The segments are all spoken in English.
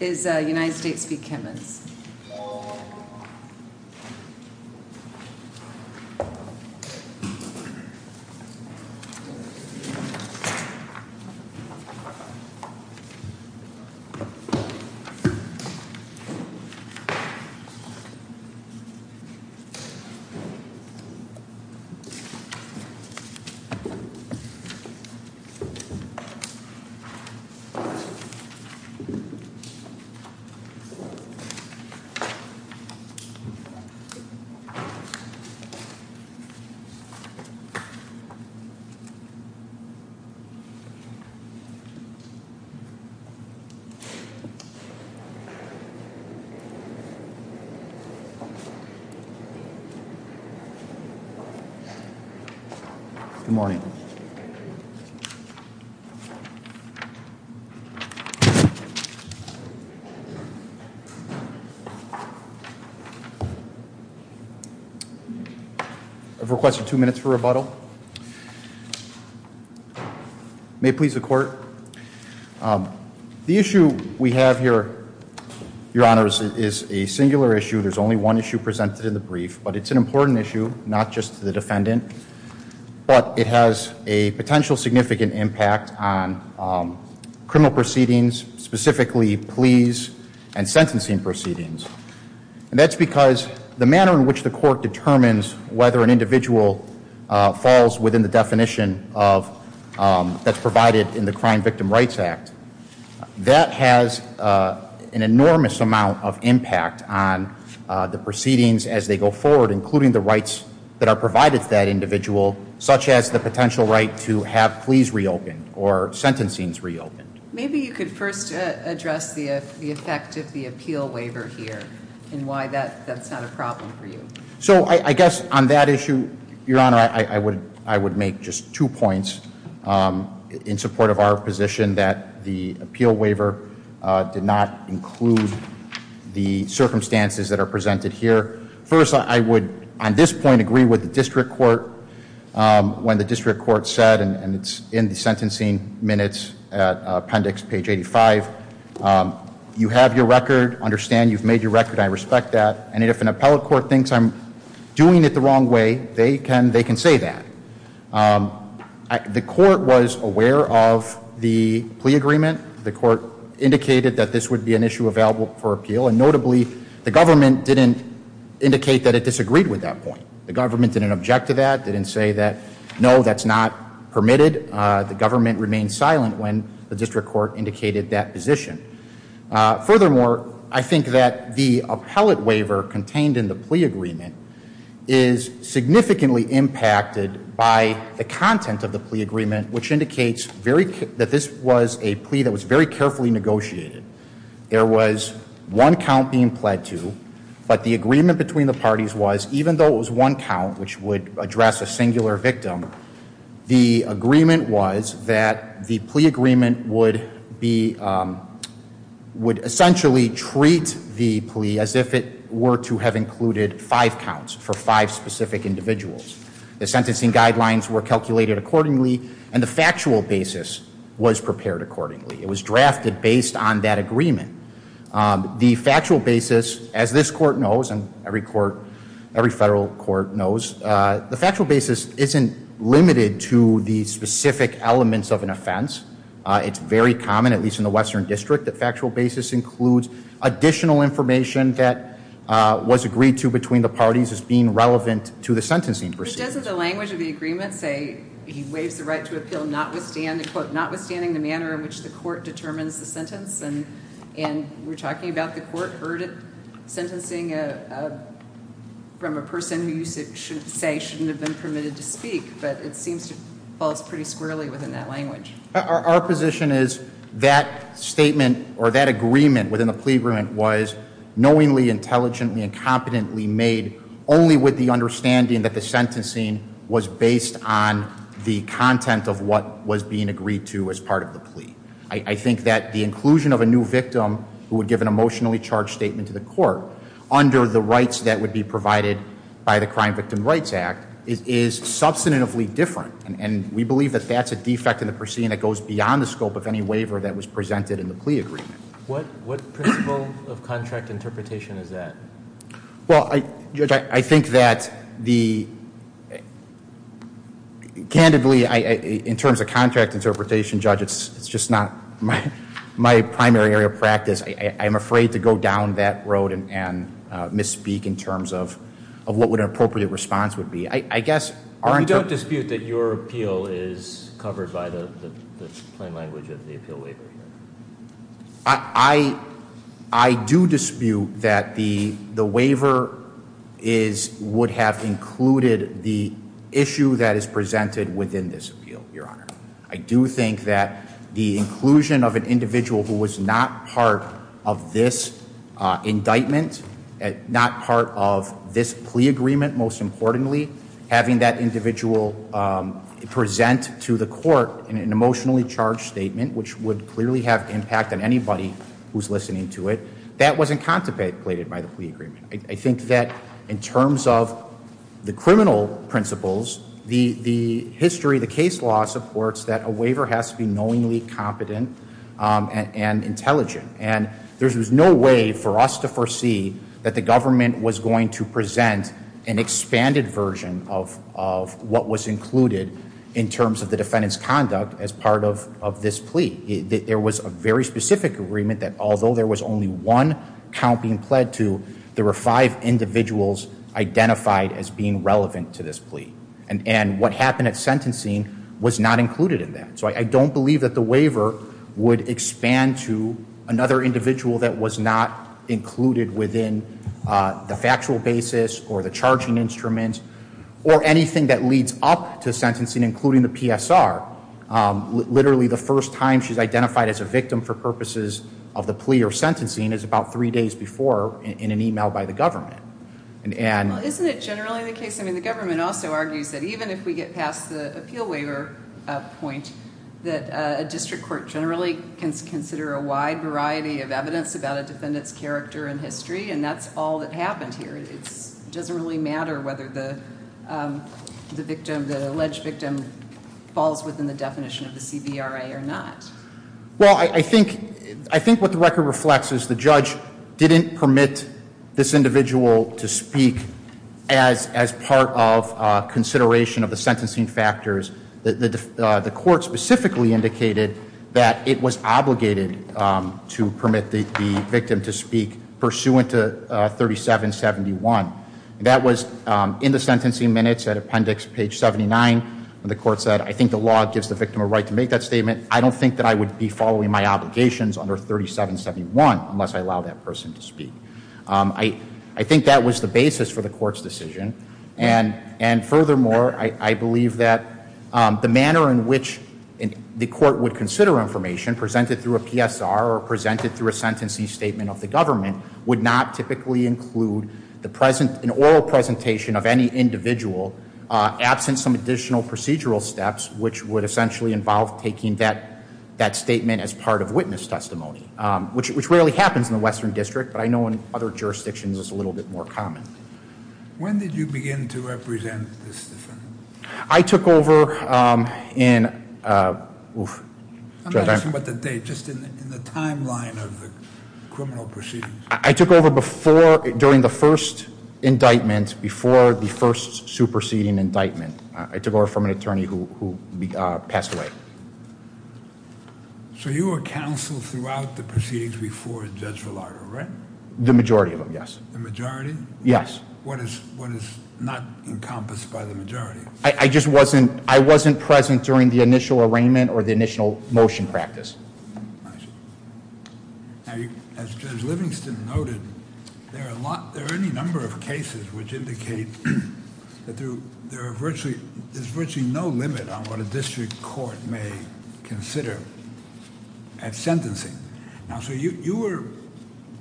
Is United States v. Kimmons., Jeff and and and and and and and and May it please the court. The issue we have here, your honors, is a singular issue. There's only one issue presented in the brief, but it's an important issue, not just to the defendant, but it has a potential significant impact on criminal proceedings, specifically pleas and sentencing proceedings. And that's because the manner in which the court determines whether an individual falls within the definition that's provided in the Crime Victim Rights Act, that has an enormous amount of impact on the proceedings as they go forward, including the rights that are provided to that individual, such as the potential right to have pleas reopened or sentencing reopened. Maybe you could first address the effect of the appeal waiver here and why that's not a problem for you. So I guess on that issue, your honor, I would I would make just two points in support of our position that the appeal waiver did not include the circumstances that are presented here. First, I would on this point agree with the district court when the district court said, and it's in the sentencing minutes appendix, page 85. You have your record. Understand you've made your record. I respect that. And if an appellate court thinks I'm doing it the wrong way, they can they can say that. The court was aware of the plea agreement. The court indicated that this would be an issue available for appeal. And notably, the government didn't indicate that it disagreed with that point. The government didn't object to that, didn't say that. No, that's not permitted. The government remained silent when the district court indicated that position. Furthermore, I think that the appellate waiver contained in the plea agreement is significantly impacted by the content of the plea agreement, which indicates very that this was a plea that was very carefully negotiated. There was one count being pled to, but the agreement between the parties was even though it was one count, which would address a singular victim, the agreement was that the plea agreement would be would essentially treat the plea as if it were to have included five counts for five specific individuals. The sentencing guidelines were calculated accordingly, and the factual basis was prepared accordingly. It was drafted based on that agreement. The factual basis, as this court knows, and every court, every federal court knows, the factual basis isn't limited to the specific elements of an offense. It's very common, at least in the Western District, that factual basis includes additional information that was agreed to between the parties as being relevant to the sentencing proceedings. But doesn't the language of the agreement say he waives the right to appeal notwithstanding the manner in which the court determines the sentence? And we're talking about the court heard it sentencing from a person who you say shouldn't have been permitted to speak, but it seems to fall pretty squarely within that language. Our position is that statement or that agreement within the plea agreement was knowingly, intelligently, and competently made only with the understanding that the sentencing was based on the content of what was being agreed to as part of the plea. I think that the inclusion of a new victim who would give an emotionally charged statement to the court under the rights that would be provided by the Crime Victim Rights Act is substantively different, and we believe that that's a defect in the proceeding that goes beyond the scope of any waiver that was presented in the plea agreement. What principle of contract interpretation is that? Well, Judge, I think that the, candidly, in terms of contract interpretation, Judge, it's just not my primary area of practice. I'm afraid to go down that road and misspeak in terms of what an appropriate response would be. You don't dispute that your appeal is covered by the plain language of the appeal waiver? I do dispute that the waiver would have included the issue that is presented within this appeal, Your Honor. I do think that the inclusion of an individual who was not part of this indictment, not part of this plea agreement, most importantly, having that individual present to the court in an emotionally charged statement, which would clearly have impact on anybody who's listening to it, that wasn't contemplated by the plea agreement. I think that in terms of the criminal principles, the history, the case law supports that a waiver has to be knowingly competent and intelligent. And there's no way for us to foresee that the government was going to present an expanded version of what was included in terms of the defendant's conduct as part of this plea. There was a very specific agreement that although there was only one count being pled to, there were five individuals identified as being relevant to this plea. And what happened at sentencing was not included in that. So I don't believe that the waiver would expand to another individual that was not included within the factual basis or the charging instrument or anything that leads up to sentencing, including the PSR. Literally, the first time she's identified as a victim for purposes of the plea or sentencing is about three days before in an email by the government. Well, isn't it generally the case, I mean, the government also argues that even if we get past the appeal waiver point, that a district court generally can consider a wide variety of evidence about a defendant's character and history, and that's all that happened here. It doesn't really matter whether the victim, the alleged victim, falls within the definition of the CBRA or not. Well, I think what the record reflects is the judge didn't permit this individual to speak as part of consideration of the sentencing factors. The court specifically indicated that it was obligated to permit the victim to speak pursuant to 3771. That was in the sentencing minutes at appendix page 79. The court said, I think the law gives the victim a right to make that statement. I don't think that I would be following my obligations under 3771 unless I allow that person to speak. I think that was the basis for the court's decision. And furthermore, I believe that the manner in which the court would consider information presented through a PSR or presented through a sentencing statement of the government would not typically include an oral presentation of any individual absent some additional procedural steps, which would essentially involve taking that statement as part of witness testimony. Which rarely happens in the Western District, but I know in other jurisdictions it's a little bit more common. When did you begin to represent this defendant? I took over in... I'm not asking about the date, just in the timeline of the criminal proceedings. I took over during the first indictment, before the first superseding indictment. I took over from an attorney who passed away. So you were counsel throughout the proceedings before Judge Villardo, right? The majority of them, yes. The majority? Yes. What is not encompassed by the majority? I just wasn't present during the initial arraignment or the initial motion practice. I see. As Judge Livingston noted, there are any number of cases which indicate that there is virtually no limit on what a district court may consider at sentencing. Now, so you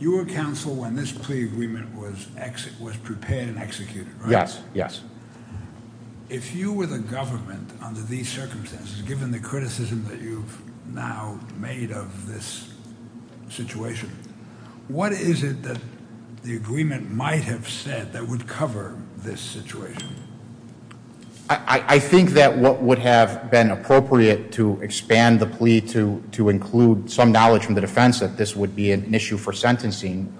were counsel when this plea agreement was prepared and executed, right? Yes, yes. If you were the government under these circumstances, given the criticism that you've now made of this situation, what is it that the agreement might have said that would cover this situation? I think that what would have been appropriate to expand the plea to include some knowledge from the defense that this would be an issue for sentencing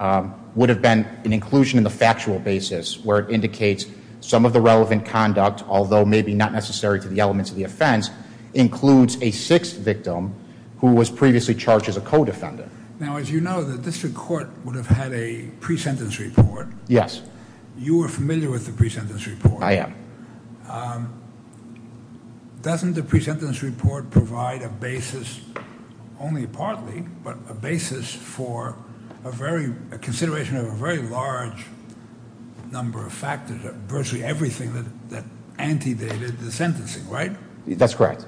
would have been an inclusion in the factual basis where it indicates some of the relevant conduct, although maybe not necessary to the elements of the offense, includes a sixth victim who was previously charged as a co-defendant. Now, as you know, the district court would have had a pre-sentence report. Yes. You were familiar with the pre-sentence report. I am. Doesn't the pre-sentence report provide a basis, only partly, but a basis for a consideration of a very large number of factors, virtually everything that antedated the sentencing, right? That's correct.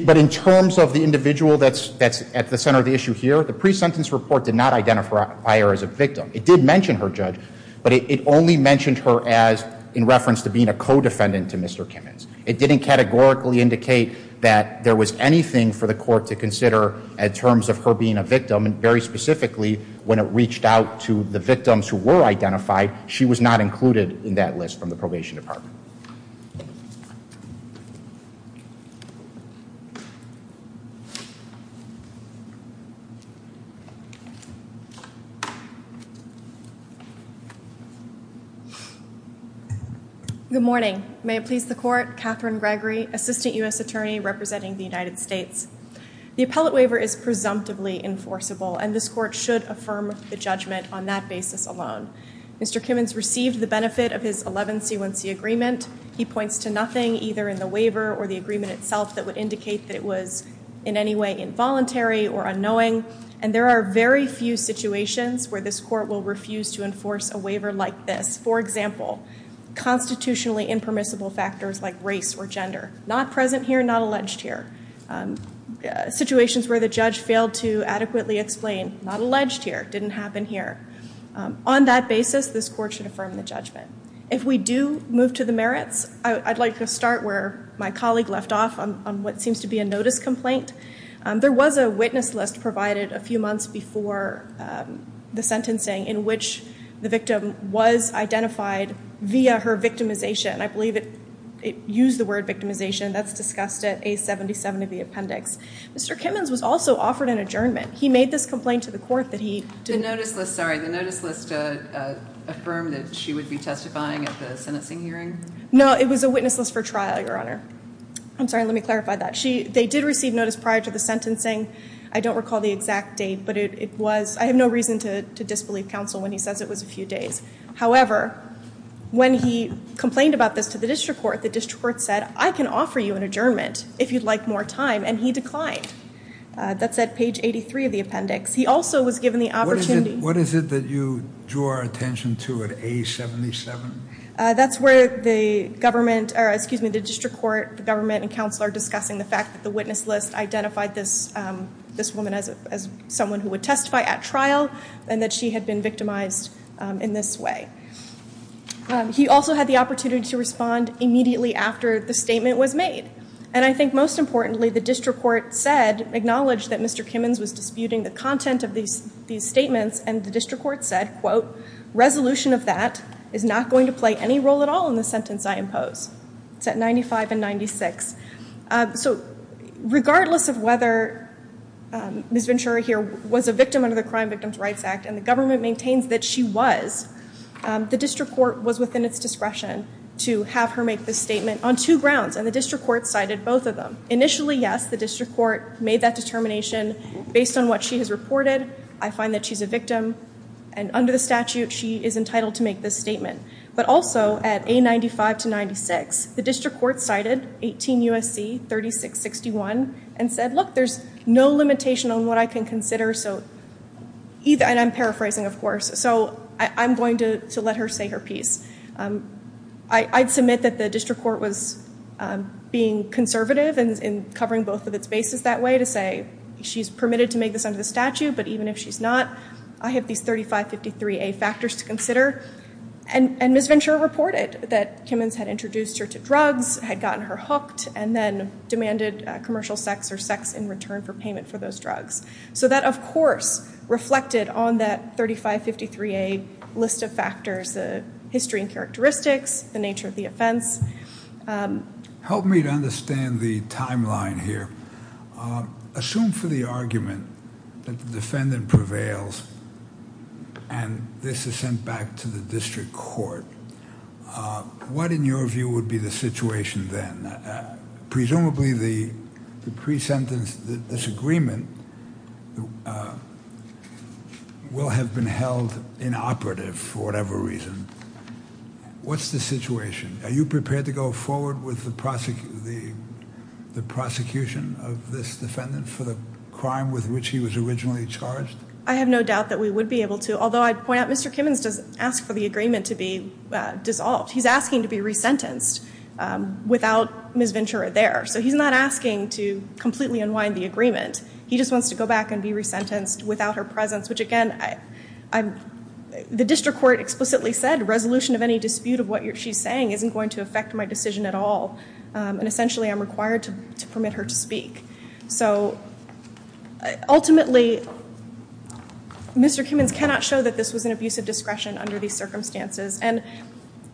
But in terms of the individual that's at the center of the issue here, the pre-sentence report did not identify her as a victim. It did mention her, Judge, but it only mentioned her as in reference to being a co-defendant to Mr. Kimmons. It didn't categorically indicate that there was anything for the court to consider in terms of her being a victim, and very specifically, when it reached out to the victims who were identified, she was not included in that list from the probation department. Good morning. May it please the court, Catherine Gregory, Assistant U.S. Attorney representing the United States. The appellate waiver is presumptively enforceable, and this court should affirm the judgment on that basis alone. Mr. Kimmons received the benefit of his 11C1C agreement. He points to nothing, either in the waiver or the agreement itself, that would indicate that it was in any way involuntary or unknowing, and there are very few situations where this court will refuse to enforce a waiver like this. For example, constitutionally impermissible factors like race or gender, not present here, not alleged here. Situations where the judge failed to adequately explain, not alleged here, didn't happen here. On that basis, this court should affirm the judgment. If we do move to the merits, I'd like to start where my colleague left off on what seems to be a notice complaint. There was a witness list provided a few months before the sentencing in which the victim was identified via her victimization. I believe it used the word victimization. That's discussed at A77 of the appendix. Mr. Kimmons was also offered an adjournment. He made this complaint to the court that he didn't. The notice list, sorry, the notice list affirmed that she would be testifying at the sentencing hearing? No, it was a witness list for trial, Your Honor. I'm sorry. Let me clarify that. They did receive notice prior to the sentencing. I don't recall the exact date, but it was. I have no reason to disbelieve counsel when he says it was a few days. However, when he complained about this to the district court, the district court said, I can offer you an adjournment if you'd like more time, and he declined. That's at page 83 of the appendix. He also was given the opportunity. What is it that you drew our attention to at A77? That's where the government, or excuse me, the district court, the government, and counsel are discussing the fact that the witness list identified this woman as someone who would testify at trial and that she had been victimized in this way. He also had the opportunity to respond immediately after the statement was made, and I think most importantly the district court said, acknowledged that Mr. Kimmons was disputing the content of these statements, and the district court said, quote, resolution of that is not going to play any role at all in the sentence I impose. It's at 95 and 96. So regardless of whether Ms. Ventura here was a victim under the Crime Victims Rights Act, and the government maintains that she was, the district court was within its discretion to have her make this statement on two grounds, and the district court cited both of them. Initially, yes, the district court made that determination based on what she has reported. I find that she's a victim, and under the statute she is entitled to make this statement. But also at A95 to 96, the district court cited 18 U.S.C. 3661 and said, look, there's no limitation on what I can consider, and I'm paraphrasing, of course, so I'm going to let her say her piece. I'd submit that the district court was being conservative in covering both of its bases that way to say she's permitted to make this under the statute, but even if she's not, I have these 3553A factors to consider. And Ms. Ventura reported that Kimmons had introduced her to drugs, had gotten her hooked, and then demanded commercial sex or sex in return for payment for those drugs. So that, of course, reflected on that 3553A list of factors, the history and characteristics, the nature of the offense. Help me to understand the timeline here. Assume for the argument that the defendant prevails and this is sent back to the district court. What, in your view, would be the situation then? Presumably the pre-sentence disagreement will have been held inoperative for whatever reason. What's the situation? Are you prepared to go forward with the prosecution of this defendant for the crime with which he was originally charged? I have no doubt that we would be able to, although I'd point out Mr. Kimmons doesn't ask for the agreement to be dissolved. He's asking to be resentenced without Ms. Ventura there. So he's not asking to completely unwind the agreement. He just wants to go back and be resentenced without her presence, which, again, the district court explicitly said resolution of any dispute of what she's saying isn't going to affect my decision at all. And essentially I'm required to permit her to speak. So ultimately, Mr. Kimmons cannot show that this was an abuse of discretion under these circumstances. And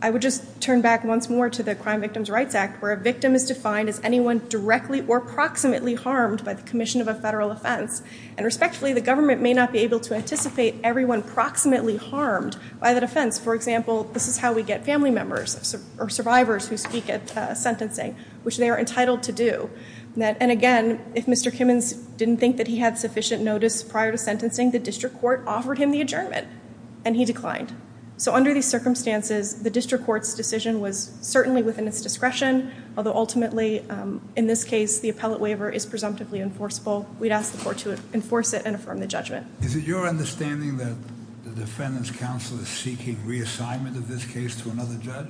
I would just turn back once more to the Crime Victims' Rights Act, where a victim is defined as anyone directly or approximately harmed by the commission of a federal offense. And respectfully, the government may not be able to anticipate everyone approximately harmed by the defense. For example, this is how we get family members or survivors who speak at sentencing, which they are entitled to do. And again, if Mr. Kimmons didn't think that he had sufficient notice prior to sentencing, the district court offered him the adjournment, and he declined. So under these circumstances, the district court's decision was certainly within its discretion, although ultimately in this case the appellate waiver is presumptively enforceable. We'd ask the court to enforce it and affirm the judgment. Is it your understanding that the Defendant's Counsel is seeking reassignment of this case to another judge?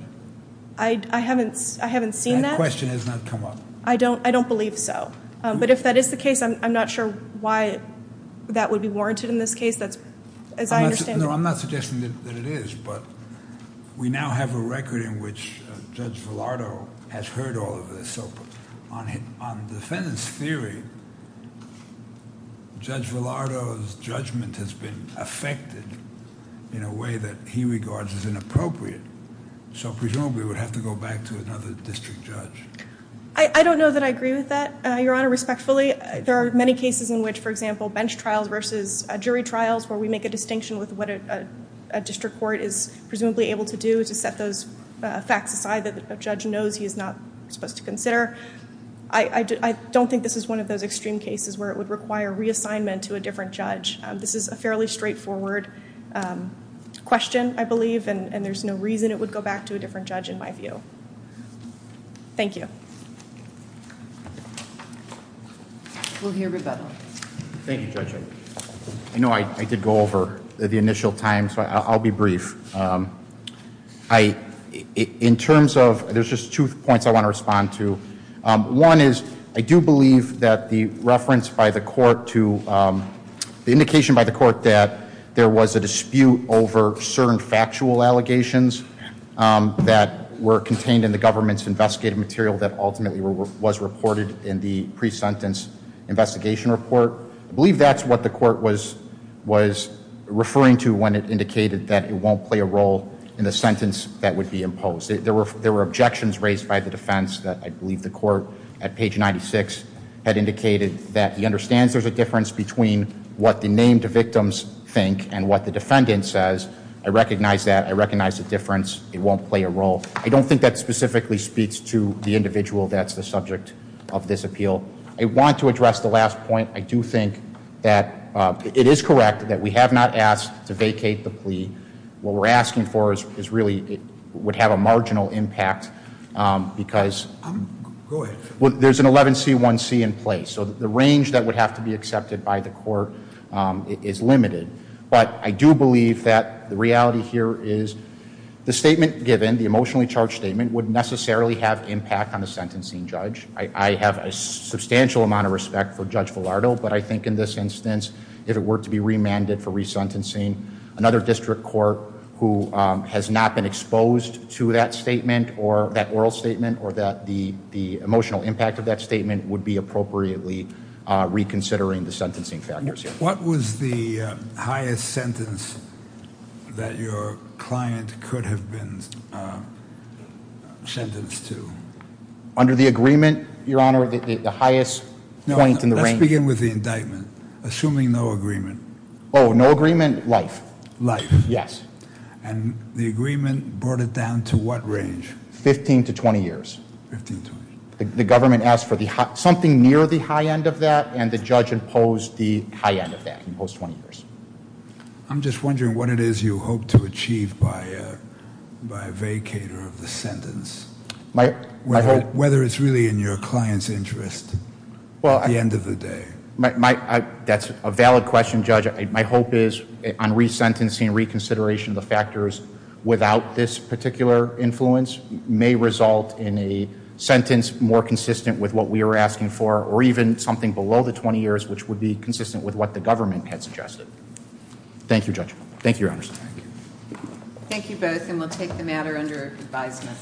I haven't seen that. That question has not come up. I don't believe so. But if that is the case, I'm not sure why that would be warranted in this case. As I understand it- No, I'm not suggesting that it is, but we now have a record in which Judge Villardo has heard all of this. So on the Defendant's theory, Judge Villardo's judgment has been affected in a way that he regards as inappropriate. So presumably we would have to go back to another district judge. I don't know that I agree with that, Your Honor, respectfully. There are many cases in which, for example, bench trials versus jury trials where we make a distinction with what a district court is presumably able to do is to set those facts aside that the judge knows he is not supposed to consider. I don't think this is one of those extreme cases where it would require reassignment to a different judge. This is a fairly straightforward question, I believe, and there's no reason it would go back to a different judge in my view. Thank you. We'll hear rebuttal. Thank you, Judge. I know I did go over the initial time, so I'll be brief. In terms of- there's just two points I want to respond to. One is I do believe that the reference by the court to- the indication by the court that there was a dispute over certain factual allegations that were contained in the government's investigative material that ultimately was reported in the pre-sentence investigation report. I believe that's what the court was referring to when it indicated that it won't play a role in the sentence that would be imposed. There were objections raised by the defense that I believe the court, at page 96, had indicated that he understands there's a difference between what the named victims think and what the defendant says. I recognize that. I recognize the difference. It won't play a role. I don't think that specifically speaks to the individual that's the subject of this appeal. I want to address the last point. I do think that it is correct that we have not asked to vacate the plea. What we're asking for is really would have a marginal impact because- Go ahead. There's an 11C1C in place, so the range that would have to be accepted by the court is limited. But I do believe that the reality here is the statement given, the emotionally charged statement, would necessarily have impact on the sentencing judge. I have a substantial amount of respect for Judge Villardo, but I think in this instance if it were to be remanded for resentencing, another district court who has not been exposed to that statement or that oral statement or that the emotional impact of that statement would be appropriately reconsidering the sentencing factors. What was the highest sentence that your client could have been sentenced to? Under the agreement, Your Honor, the highest point in the range- No, let's begin with the indictment, assuming no agreement. Oh, no agreement, life. Life. Yes. And the agreement brought it down to what range? 15 to 20 years. The government asked for something near the high end of that, and the judge imposed the high end of that, imposed 20 years. I'm just wondering what it is you hope to achieve by a vacater of the sentence, whether it's really in your client's interest at the end of the day. That's a valid question, Judge. My hope is on resentencing, reconsideration of the factors without this particular influence may result in a sentence more consistent with what we were asking for or even something below the 20 years which would be consistent with what the government had suggested. Thank you, Judge. Thank you, Your Honor. Thank you both, and we'll take the matter under advisement.